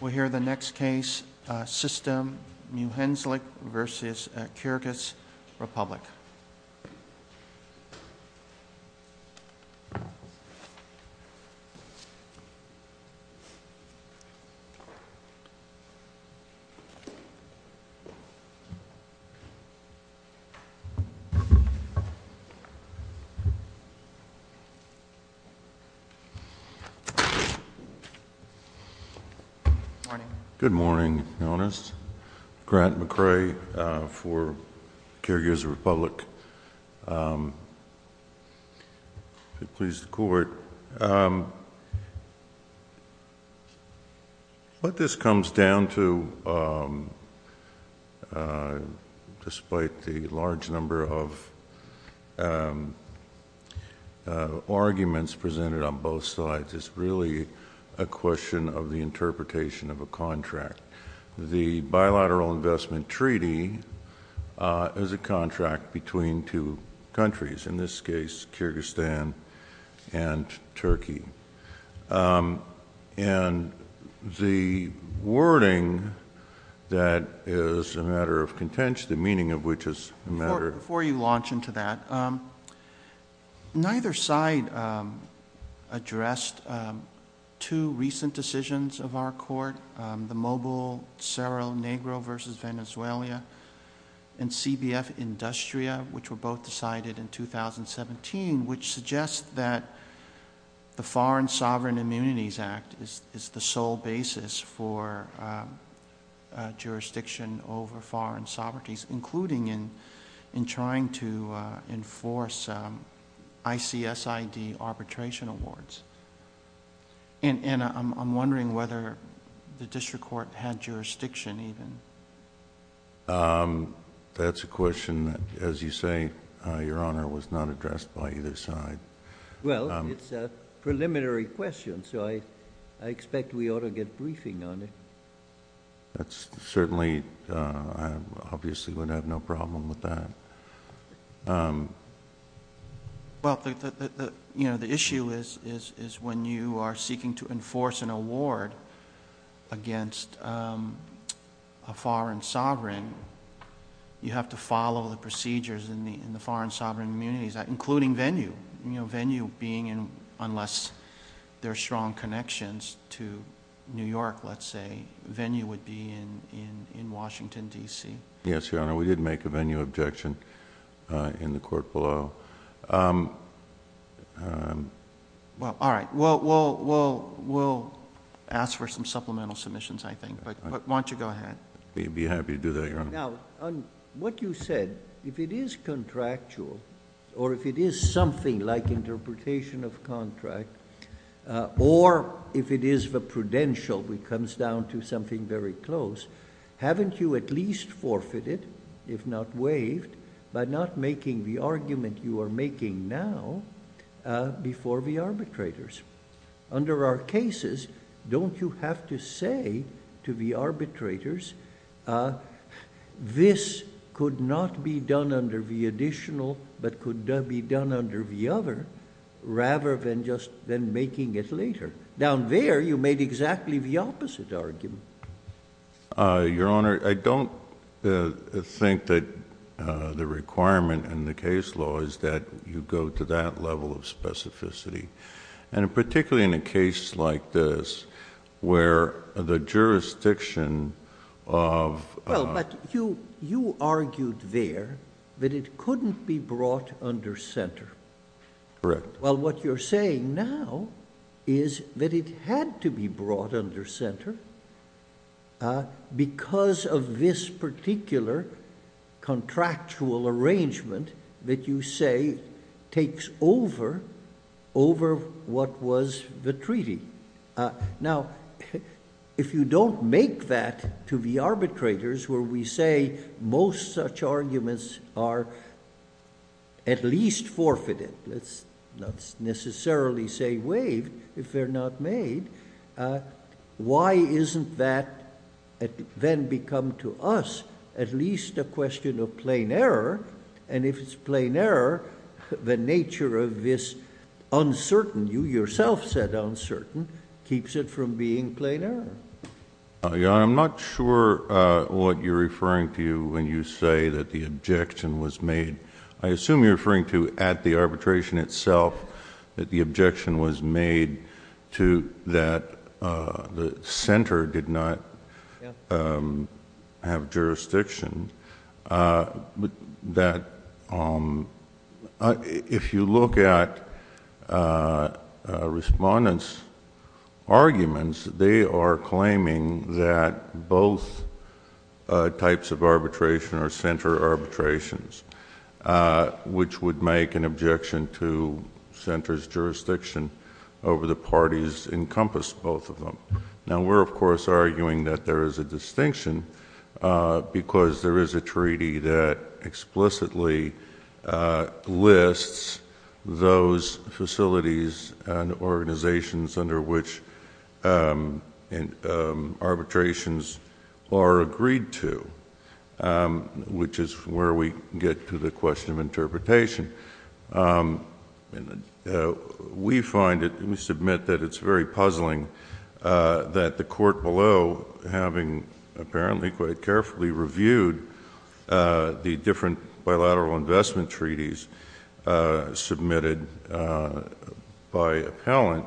We'll hear the next case, Sistem Muhendislik versus Kyrgyz Republic. Good morning, Your Honors. Grant McCrae for Kyrgyz Republic. If it pleases the Court, what this comes down to, despite the large number of interpretations of a contract, the Bilateral Investment Treaty is a contract between two countries, in this case, Kyrgyzstan and Turkey. And the wording that is a matter of contention, the meaning of which is a matter of... Before you launch into that, neither side addressed two recent decisions of our Court, the Mobile-Cerro Negro versus Venezuela and CBF-Industria, which were both decided in 2017, which suggests that the Foreign Sovereign Immunities Act is the sole basis for jurisdiction over foreign sovereignties, including in trying to enforce ICSID arbitration awards. And I'm wondering whether the District Court had jurisdiction even. That's a question that, as you say, Your Honor, was not addressed by either side. Well, it's a preliminary question, so I expect we ought to get briefing on it. That's certainly... I obviously would have no problem with that. Well, the issue is when you are seeking to enforce an award against a foreign sovereign, you have to follow the procedures in the Foreign Sovereign Immunities Act, including venue. Venue being, unless there are strong connections to New York, let's say, venue would be in Washington, D.C. Yes, Your Honor. We did make a venue objection in the court below. Well, all right. We'll ask for some supplemental submissions, I think. But why don't you go ahead. We'd be happy to do that, Your Honor. Now, on what you said, if it is contractual, or if it is something like interpretation of contract, or if it is the prudential which comes down to something very close, haven't you at least forfeited, if not waived, by not making the argument you are making now before the arbitrators? Under our cases, don't you have to say to the arbitrators, this could not be done under the additional, but could be done under the other, rather than just making it later? Down there, you made exactly the opposite argument. Your Honor, I don't think that the requirement in the case law is that you go to that level of specificity. And particularly in a case like this, where the jurisdiction of... Well, but you argued there that it couldn't be brought under center. Correct. Well, what you're saying now is that it had to be brought under center because of this particular contractual arrangement that you say takes over over what was the treaty. Now, if you don't make that to the arbitrators, where we say most such arguments are at least forfeited, let's not necessarily say waived, if they're not made, why isn't that then become to us at least a question of plain error? And if it's plain error, the nature of this uncertain, you yourself said uncertain, keeps it from being plain error. Your Honor, I'm not sure what you're referring to when you say that the objection was made. I assume you're referring to at the arbitration itself that the objection was made to that the center did not have jurisdiction. If you look at respondents' arguments, they are claiming that both types of arbitration are center arbitrations. Which would make an objection to center's jurisdiction over the parties encompassed both of them. Now, we're of course arguing that there is a distinction because there is a treaty that explicitly lists those facilities and organizations under which arbitrations are agreed to, which is where we get to the question of interpretation. We find it, we submit that it's very puzzling that the court below, having apparently quite carefully reviewed the different bilateral investment treaties submitted by appellant,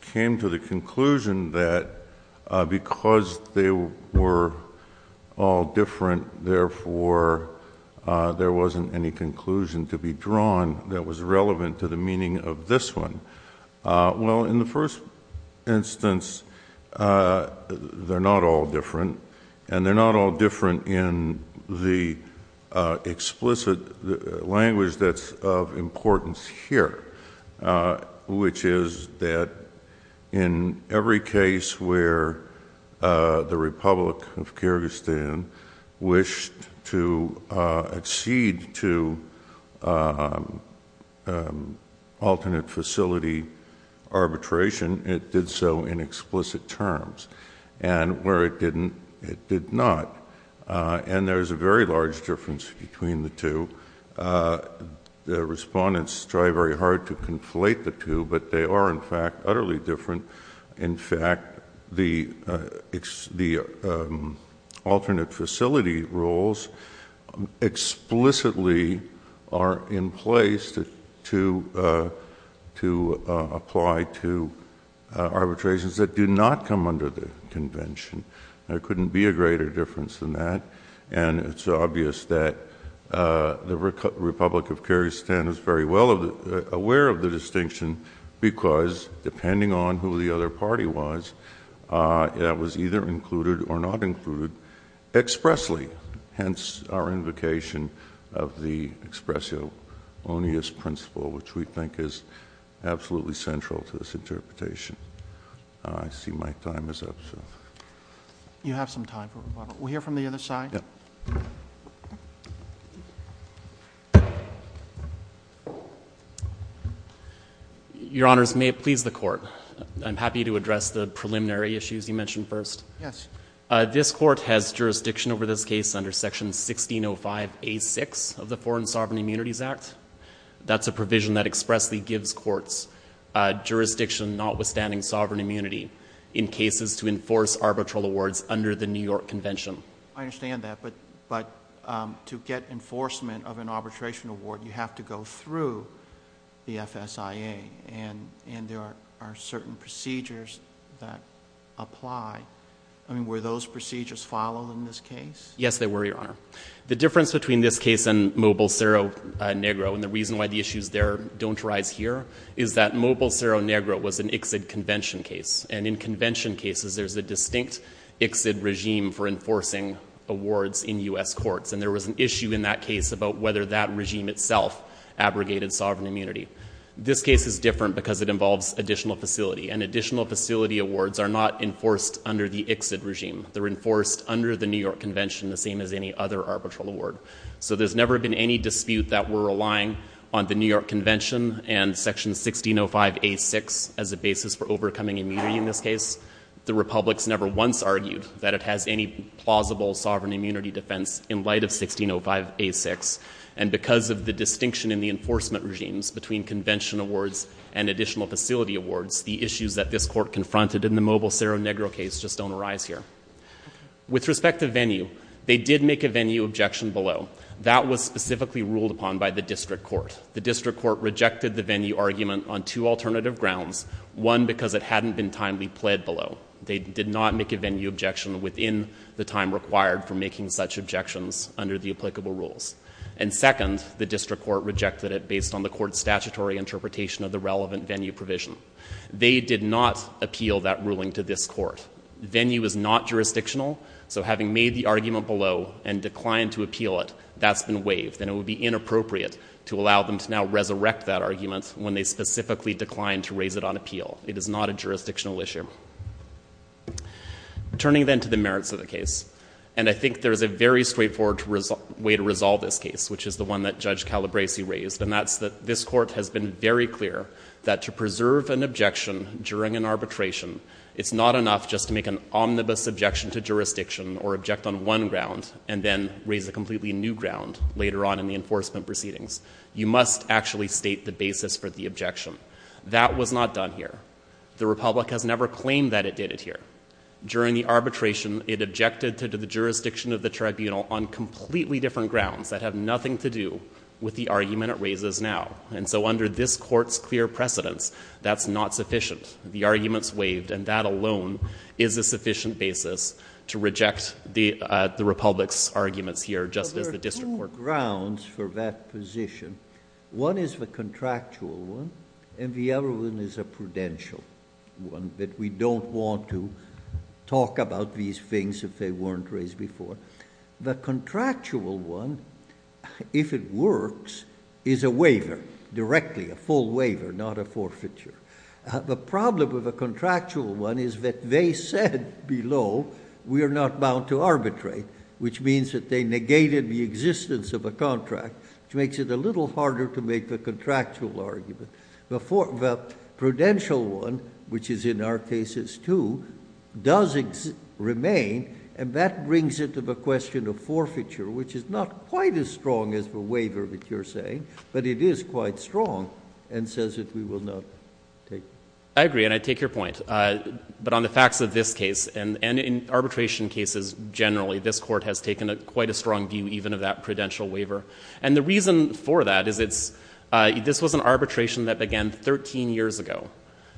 came to the conclusion that because they were all different, therefore there wasn't any conclusion to be drawn that was relevant to the meaning of this one. Well, in the first instance, they're not all different, and they're not all different in the explicit language that's of importance here, which is that in every case where the Republic of Kyrgyzstan wished to accede to alternate facility arbitration, it did so in explicit terms. And where it didn't, it did not. And there's a very large difference between the two. The respondents try very hard to conflate the two, but they are, in fact, utterly different. In fact, the alternate facility rules explicitly are in place to apply to arbitrations that do not come under the Convention. There couldn't be a greater difference than that, and it's obvious that the Republic of Kyrgyzstan is very well aware of the distinction because, depending on who the other party was, that was either included or not included expressly, hence our invocation of the expression onus principle, which we think is absolutely central to this interpretation. I see my time is up, so... You have some time for rebuttal. We'll hear from the other side. Your Honors, may it please the Court. I'm happy to address the preliminary issues you mentioned first. Yes. This Court has jurisdiction over this case under Section 1605A6 of the Foreign Sovereign Immunities Act. That's a provision that expressly gives courts jurisdiction notwithstanding sovereign immunity in cases to enforce arbitral awards under the New York Convention. I understand that, but to get enforcement of an arbitration award, you have to go through the FSIA, and there are certain procedures that apply. I mean, were those procedures followed in this case? Yes, they were, Your Honor. The difference between this case and Mobile Cerro Negro, and the reason why the issues there don't arise here, is that Mobile Cerro Negro was an ICSID Convention case, and in Convention cases, there's a distinct ICSID regime for enforcing awards in U.S. courts, and there was an issue in that case about whether that regime itself abrogated sovereign immunity. This case is different because it involves additional facility, and additional facility awards are not enforced under the ICSID regime. They're enforced under the New York Convention, the same as any other arbitral award. So there's never been any dispute that we're relying on the New York Convention and Section 1605A6 as a basis for overcoming immunity in this case. The republics never once argued that it has any plausible sovereign immunity defense in light of 1605A6, and because of the distinction in the enforcement regimes between convention awards and additional facility awards, the issues that this court confronted in the Mobile Cerro Negro case just don't arise here. With respect to venue, they did make a venue objection below. That was specifically ruled upon by the district court. First, the district court rejected the venue argument on two alternative grounds. One, because it hadn't been timely pled below. They did not make a venue objection within the time required for making such objections under the applicable rules. And second, the district court rejected it based on the court's statutory interpretation of the relevant venue provision. They did not appeal that ruling to this court. Venue is not jurisdictional, so having made the argument below and declined to appeal it, that's been waived, and it would be inappropriate to allow them to now resurrect that argument when they specifically declined to raise it on appeal. It is not a jurisdictional issue. Turning then to the merits of the case, and I think there's a very straightforward way to resolve this case, which is the one that Judge Calabresi raised, and that's that this court has been very clear that to preserve an objection during an arbitration, it's not enough just to make an omnibus objection to jurisdiction or object on one ground and then raise a completely new ground later on in the enforcement proceedings. You must actually state the basis for the objection. That was not done here. The Republic has never claimed that it did it here. During the arbitration, it objected to the jurisdiction of the tribunal on completely different grounds that have nothing to do with the argument it raises now. And so under this court's clear precedence, that's not sufficient. The argument's waived, and that alone is a sufficient basis to reject the Republic's arguments here just as the district court... There are two grounds for that position. One is the contractual one, and the other one is a prudential one, that we don't want to talk about these things if they weren't raised before. The contractual one, if it works, is a waiver, directly, a full waiver, not a forfeiture. The problem with the contractual one is that they said below we are not bound to arbitrate, which means that they negated the existence of a contract, which makes it a little harder to make a contractual argument. The prudential one, which is in our cases too, does remain, and that brings it to the question of forfeiture, which is not quite as strong as the waiver that you're saying, but it is quite strong, and says that we will not take it. I agree, and I take your point. But on the facts of this case, and in arbitration cases generally, this court has taken quite a strong view even of that prudential waiver. And the reason for that is this was an arbitration that began 13 years ago.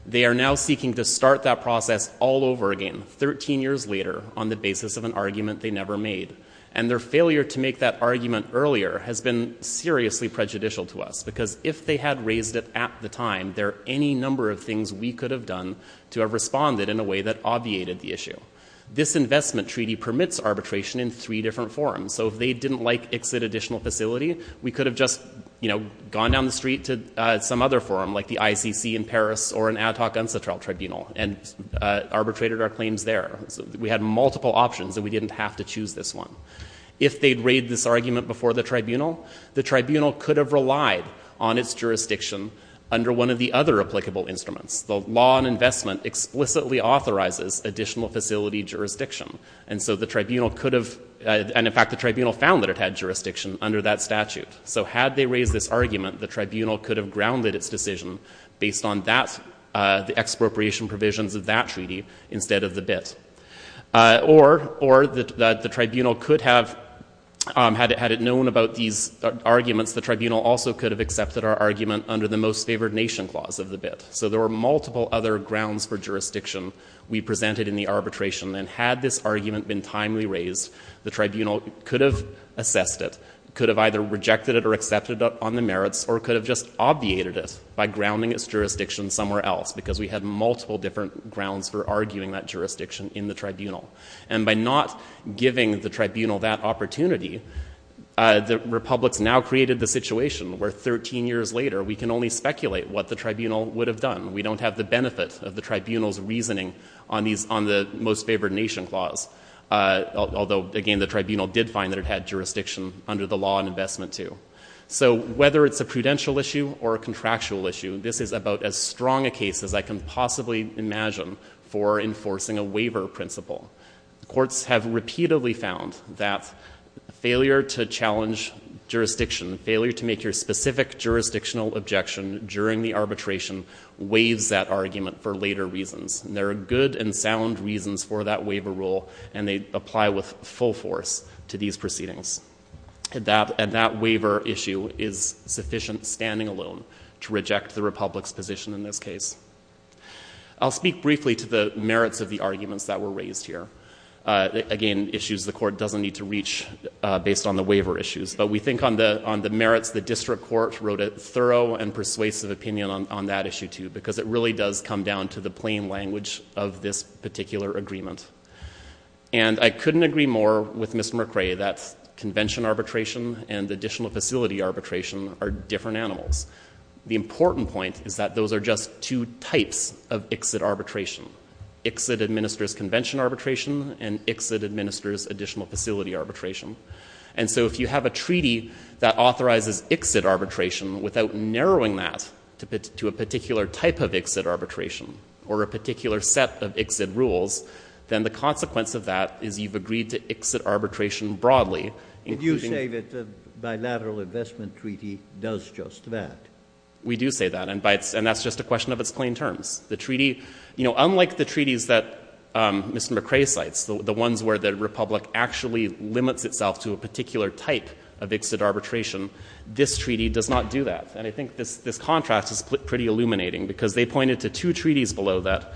They are now seeking to start that process all over again, 13 years later, on the basis of an argument they never made. And their failure to make that argument earlier has been seriously prejudicial to us, because if they had raised it at the time, there are any number of things we could have done to have responded in a way that obviated the issue. This investment treaty permits arbitration in three different forms. So if they didn't like exit additional facility, we could have just, you know, gone down the street to some other forum, like the ICC in Paris, or an ad hoc unsettled tribunal, and arbitrated our claims there. We had multiple options, and we didn't have to choose this one. If they'd raided this argument before the tribunal, the tribunal could have relied on its jurisdiction under one of the other applicable instruments. The law on investment explicitly authorizes additional facility jurisdiction. And so the tribunal could have... And, in fact, the tribunal found that it had jurisdiction under that statute. So had they raised this argument, the tribunal could have grounded its decision based on the expropriation provisions of that treaty instead of the BIT. Or the tribunal could have... Had it known about these arguments, the tribunal also could have accepted our argument under the most favored nation clause of the BIT. So there were multiple other grounds for jurisdiction we presented in the arbitration. And had this argument been timely raised, the tribunal could have assessed it, could have either rejected it or accepted it on the merits, or could have just obviated it by grounding its jurisdiction somewhere else, because we had multiple different grounds for arguing that jurisdiction in the tribunal. And by not giving the tribunal that opportunity, the republics now created the situation where 13 years later we can only speculate what the tribunal would have done. We don't have the benefit of the tribunal's reasoning on the most favored nation clause. Although, again, the tribunal did find that it had jurisdiction under the law on investment too. So whether it's a prudential issue or a contractual issue, this is about as strong a case as I can possibly imagine for enforcing a waiver principle. Courts have repeatedly found that failure to challenge jurisdiction, failure to make your specific jurisdictional objection during the arbitration, waives that argument for later reasons. And there are good and sound reasons for that waiver rule, and they apply with full force to these proceedings. And that waiver issue is sufficient standing alone to reject the republic's position in this case. I'll speak briefly to the merits of the arguments that were raised here. Again, issues the court doesn't need to reach based on the waiver issues. But we think on the merits, the district court wrote a thorough and persuasive opinion on that issue too, because it really does come down to the plain language of this particular agreement. And I couldn't agree more with Mr. McRae that convention arbitration and additional facility arbitration are different animals. The important point is that those are just two types of exit arbitration. Exit administers convention arbitration, and exit administers additional facility arbitration. And so if you have a treaty that authorizes exit arbitration without narrowing that to a particular type of exit arbitration, or a particular set of exit rules, then the consequence of that is you've agreed to exit arbitration broadly. And you say that the bilateral investment treaty does just that. We do say that, and that's just a question of its plain terms. The treaty, you know, unlike the treaties that Mr. McRae cites, the ones where the republic actually limits itself to a particular type of exit arbitration, this treaty does not do that. And I think this contrast is pretty illuminating because they pointed to two treaties below that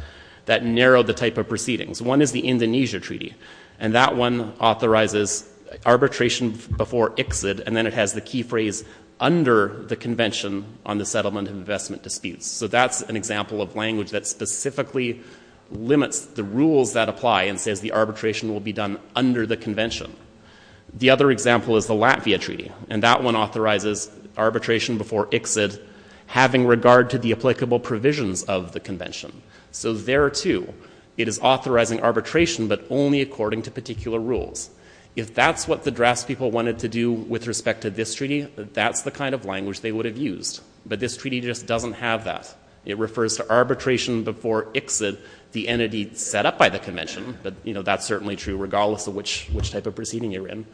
that narrow the type of proceedings. One is the Indonesia treaty, and that one authorizes arbitration before exit, and then it has the key phrase under the convention on the settlement of investment disputes. So that's an example of language that specifically limits the rules that apply and says the arbitration will be done under the convention. The other example is the Latvia treaty, and that one authorizes arbitration before exit having regard to the applicable provisions of the convention. So there too, it is authorizing arbitration, but only according to particular rules. If that's what the draftspeople wanted to do with respect to this treaty, that's the kind of language they would have used. But this treaty just doesn't have that. It refers to arbitration before exit, which is the entity set up by the convention, but that's certainly true regardless of which type of proceeding you're in,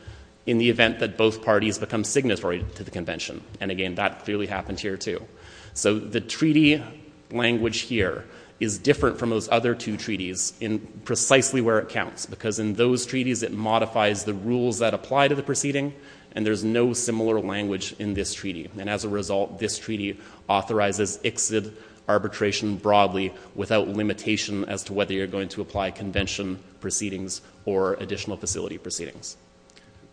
in the event that both parties become signatory to the convention. And again, that clearly happened here too. So the treaty language here is different from those other two treaties in precisely where it counts because in those treaties, it modifies the rules that apply to the proceeding, and there's no similar language in this treaty. And as a result, this treaty authorizes exit arbitration broadly without limitation as to whether you're going to apply convention proceedings or additional facility proceedings.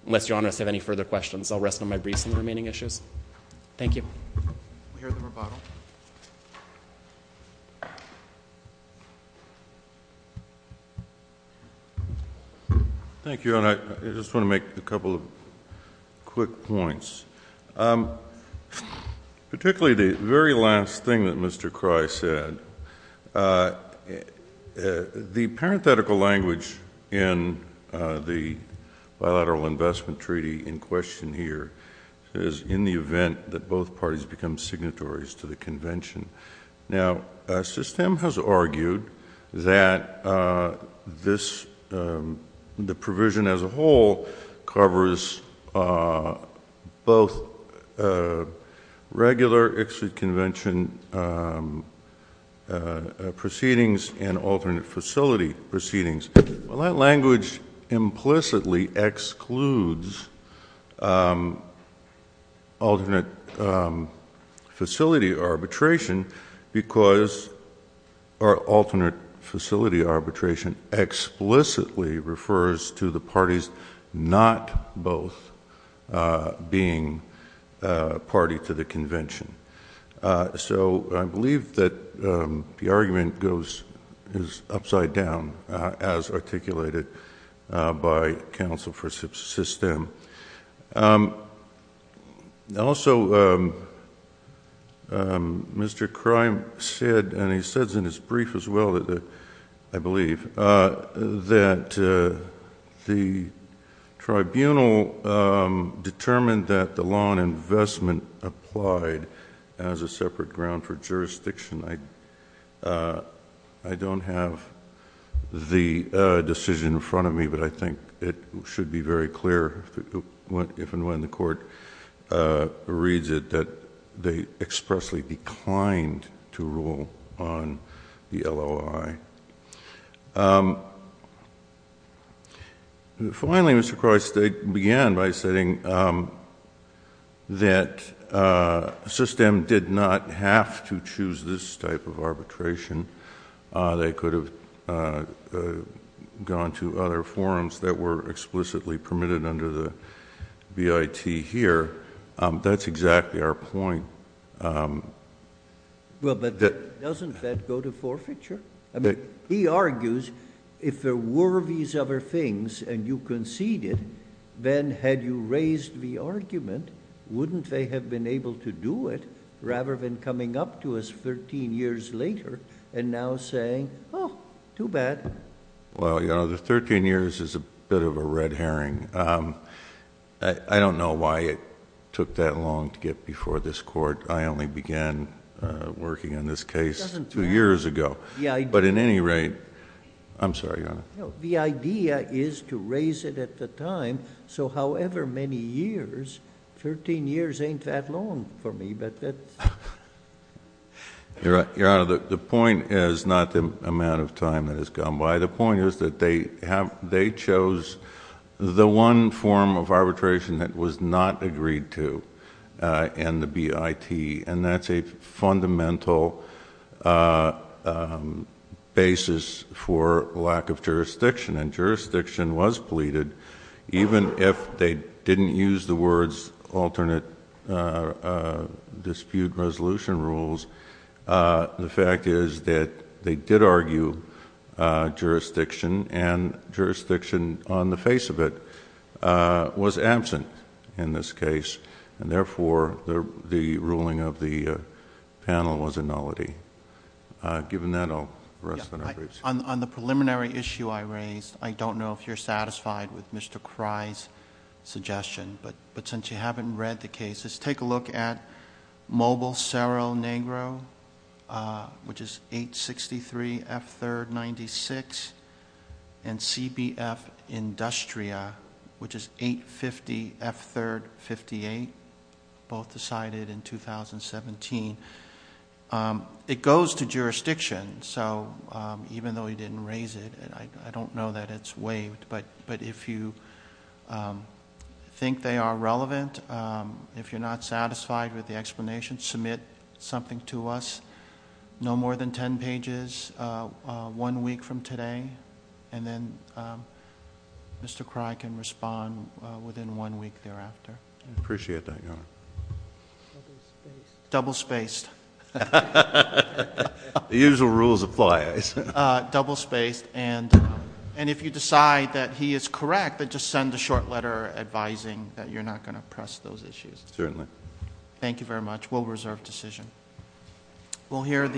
Unless Your Honor has any further questions, I'll rest on my briefs on the remaining issues. Thank you. We'll hear the rebuttal. Thank you, Your Honor. I just want to make a couple of quick points. Particularly the very last thing that Mr. Crye said, the parenthetical language in the Bilateral Investment Treaty in question here is in the event that both parties become signatories to the convention. Now, SISTEM has argued that the provision as a whole covers both regular exit convention proceedings and alternate facility proceedings. Well, that language implicitly excludes alternate facility arbitration because our alternate facility arbitration explicitly refers to the parties not both being party to the convention. So I believe that the argument is upside down as articulated by counsel for SISTEM. Also, Mr. Crye said, and he says in his brief as well, I believe, that the tribunal determined that the law on investment applied as a separate ground for jurisdiction. I don't have the decision in front of me, but I think it should be very clear if and when the court reads it that they expressly declined to rule on the LOI. Finally, Mr. Crye began by saying that SISTEM did not have to choose this type of arbitration. They could have gone to other forums that were explicitly permitted under the BIT here. That's exactly our point. Well, but doesn't that go to forfeiture? I mean, he argues if there were these other things and you conceded, then had you raised the argument, wouldn't they have been able to do it rather than coming up to us 13 years later and now saying, oh, too bad? Well, you know, the 13 years is a bit of a red herring. I don't know why it took that long to get before this court. I only began working on this case two years ago. But at any rate... I'm sorry, Your Honor. No, the idea is to raise it at the time, so however many years, 13 years ain't that long for me. Your Honor, the point is not the amount of time that has gone by. The point is that they chose the one form of arbitration that was not agreed to. And the BIT. And that's a fundamental basis for lack of jurisdiction. And jurisdiction was pleaded, even if they didn't use the words alternate dispute resolution rules. The fact is that they did argue jurisdiction, and jurisdiction on the face of it was absent in this case. And therefore, the ruling of the panel was a nullity. Given that, I'll rest on my briefs. On the preliminary issue I raised, I don't know if you're satisfied with Mr. Krey's suggestion, but since you haven't read the cases, take a look at Mobile-Cerro Negro, which is 863 F. 3rd 96, and CBF Industria, which is 850 F. 3rd 58, both decided in 2017. It goes to jurisdiction, so even though he didn't raise it, I don't know that it's waived. But if you think they are relevant, if you're not satisfied with the explanation, submit something to us. No more than ten pages one week from today, and then Mr. Krey can respond within one week thereafter. I appreciate that, Your Honor. Double-spaced. The usual rules apply, I assume. Double-spaced. And if you decide that he is correct, just send a short letter advising that you're not going to press those issues. Certainly. Thank you very much. Thank you very much.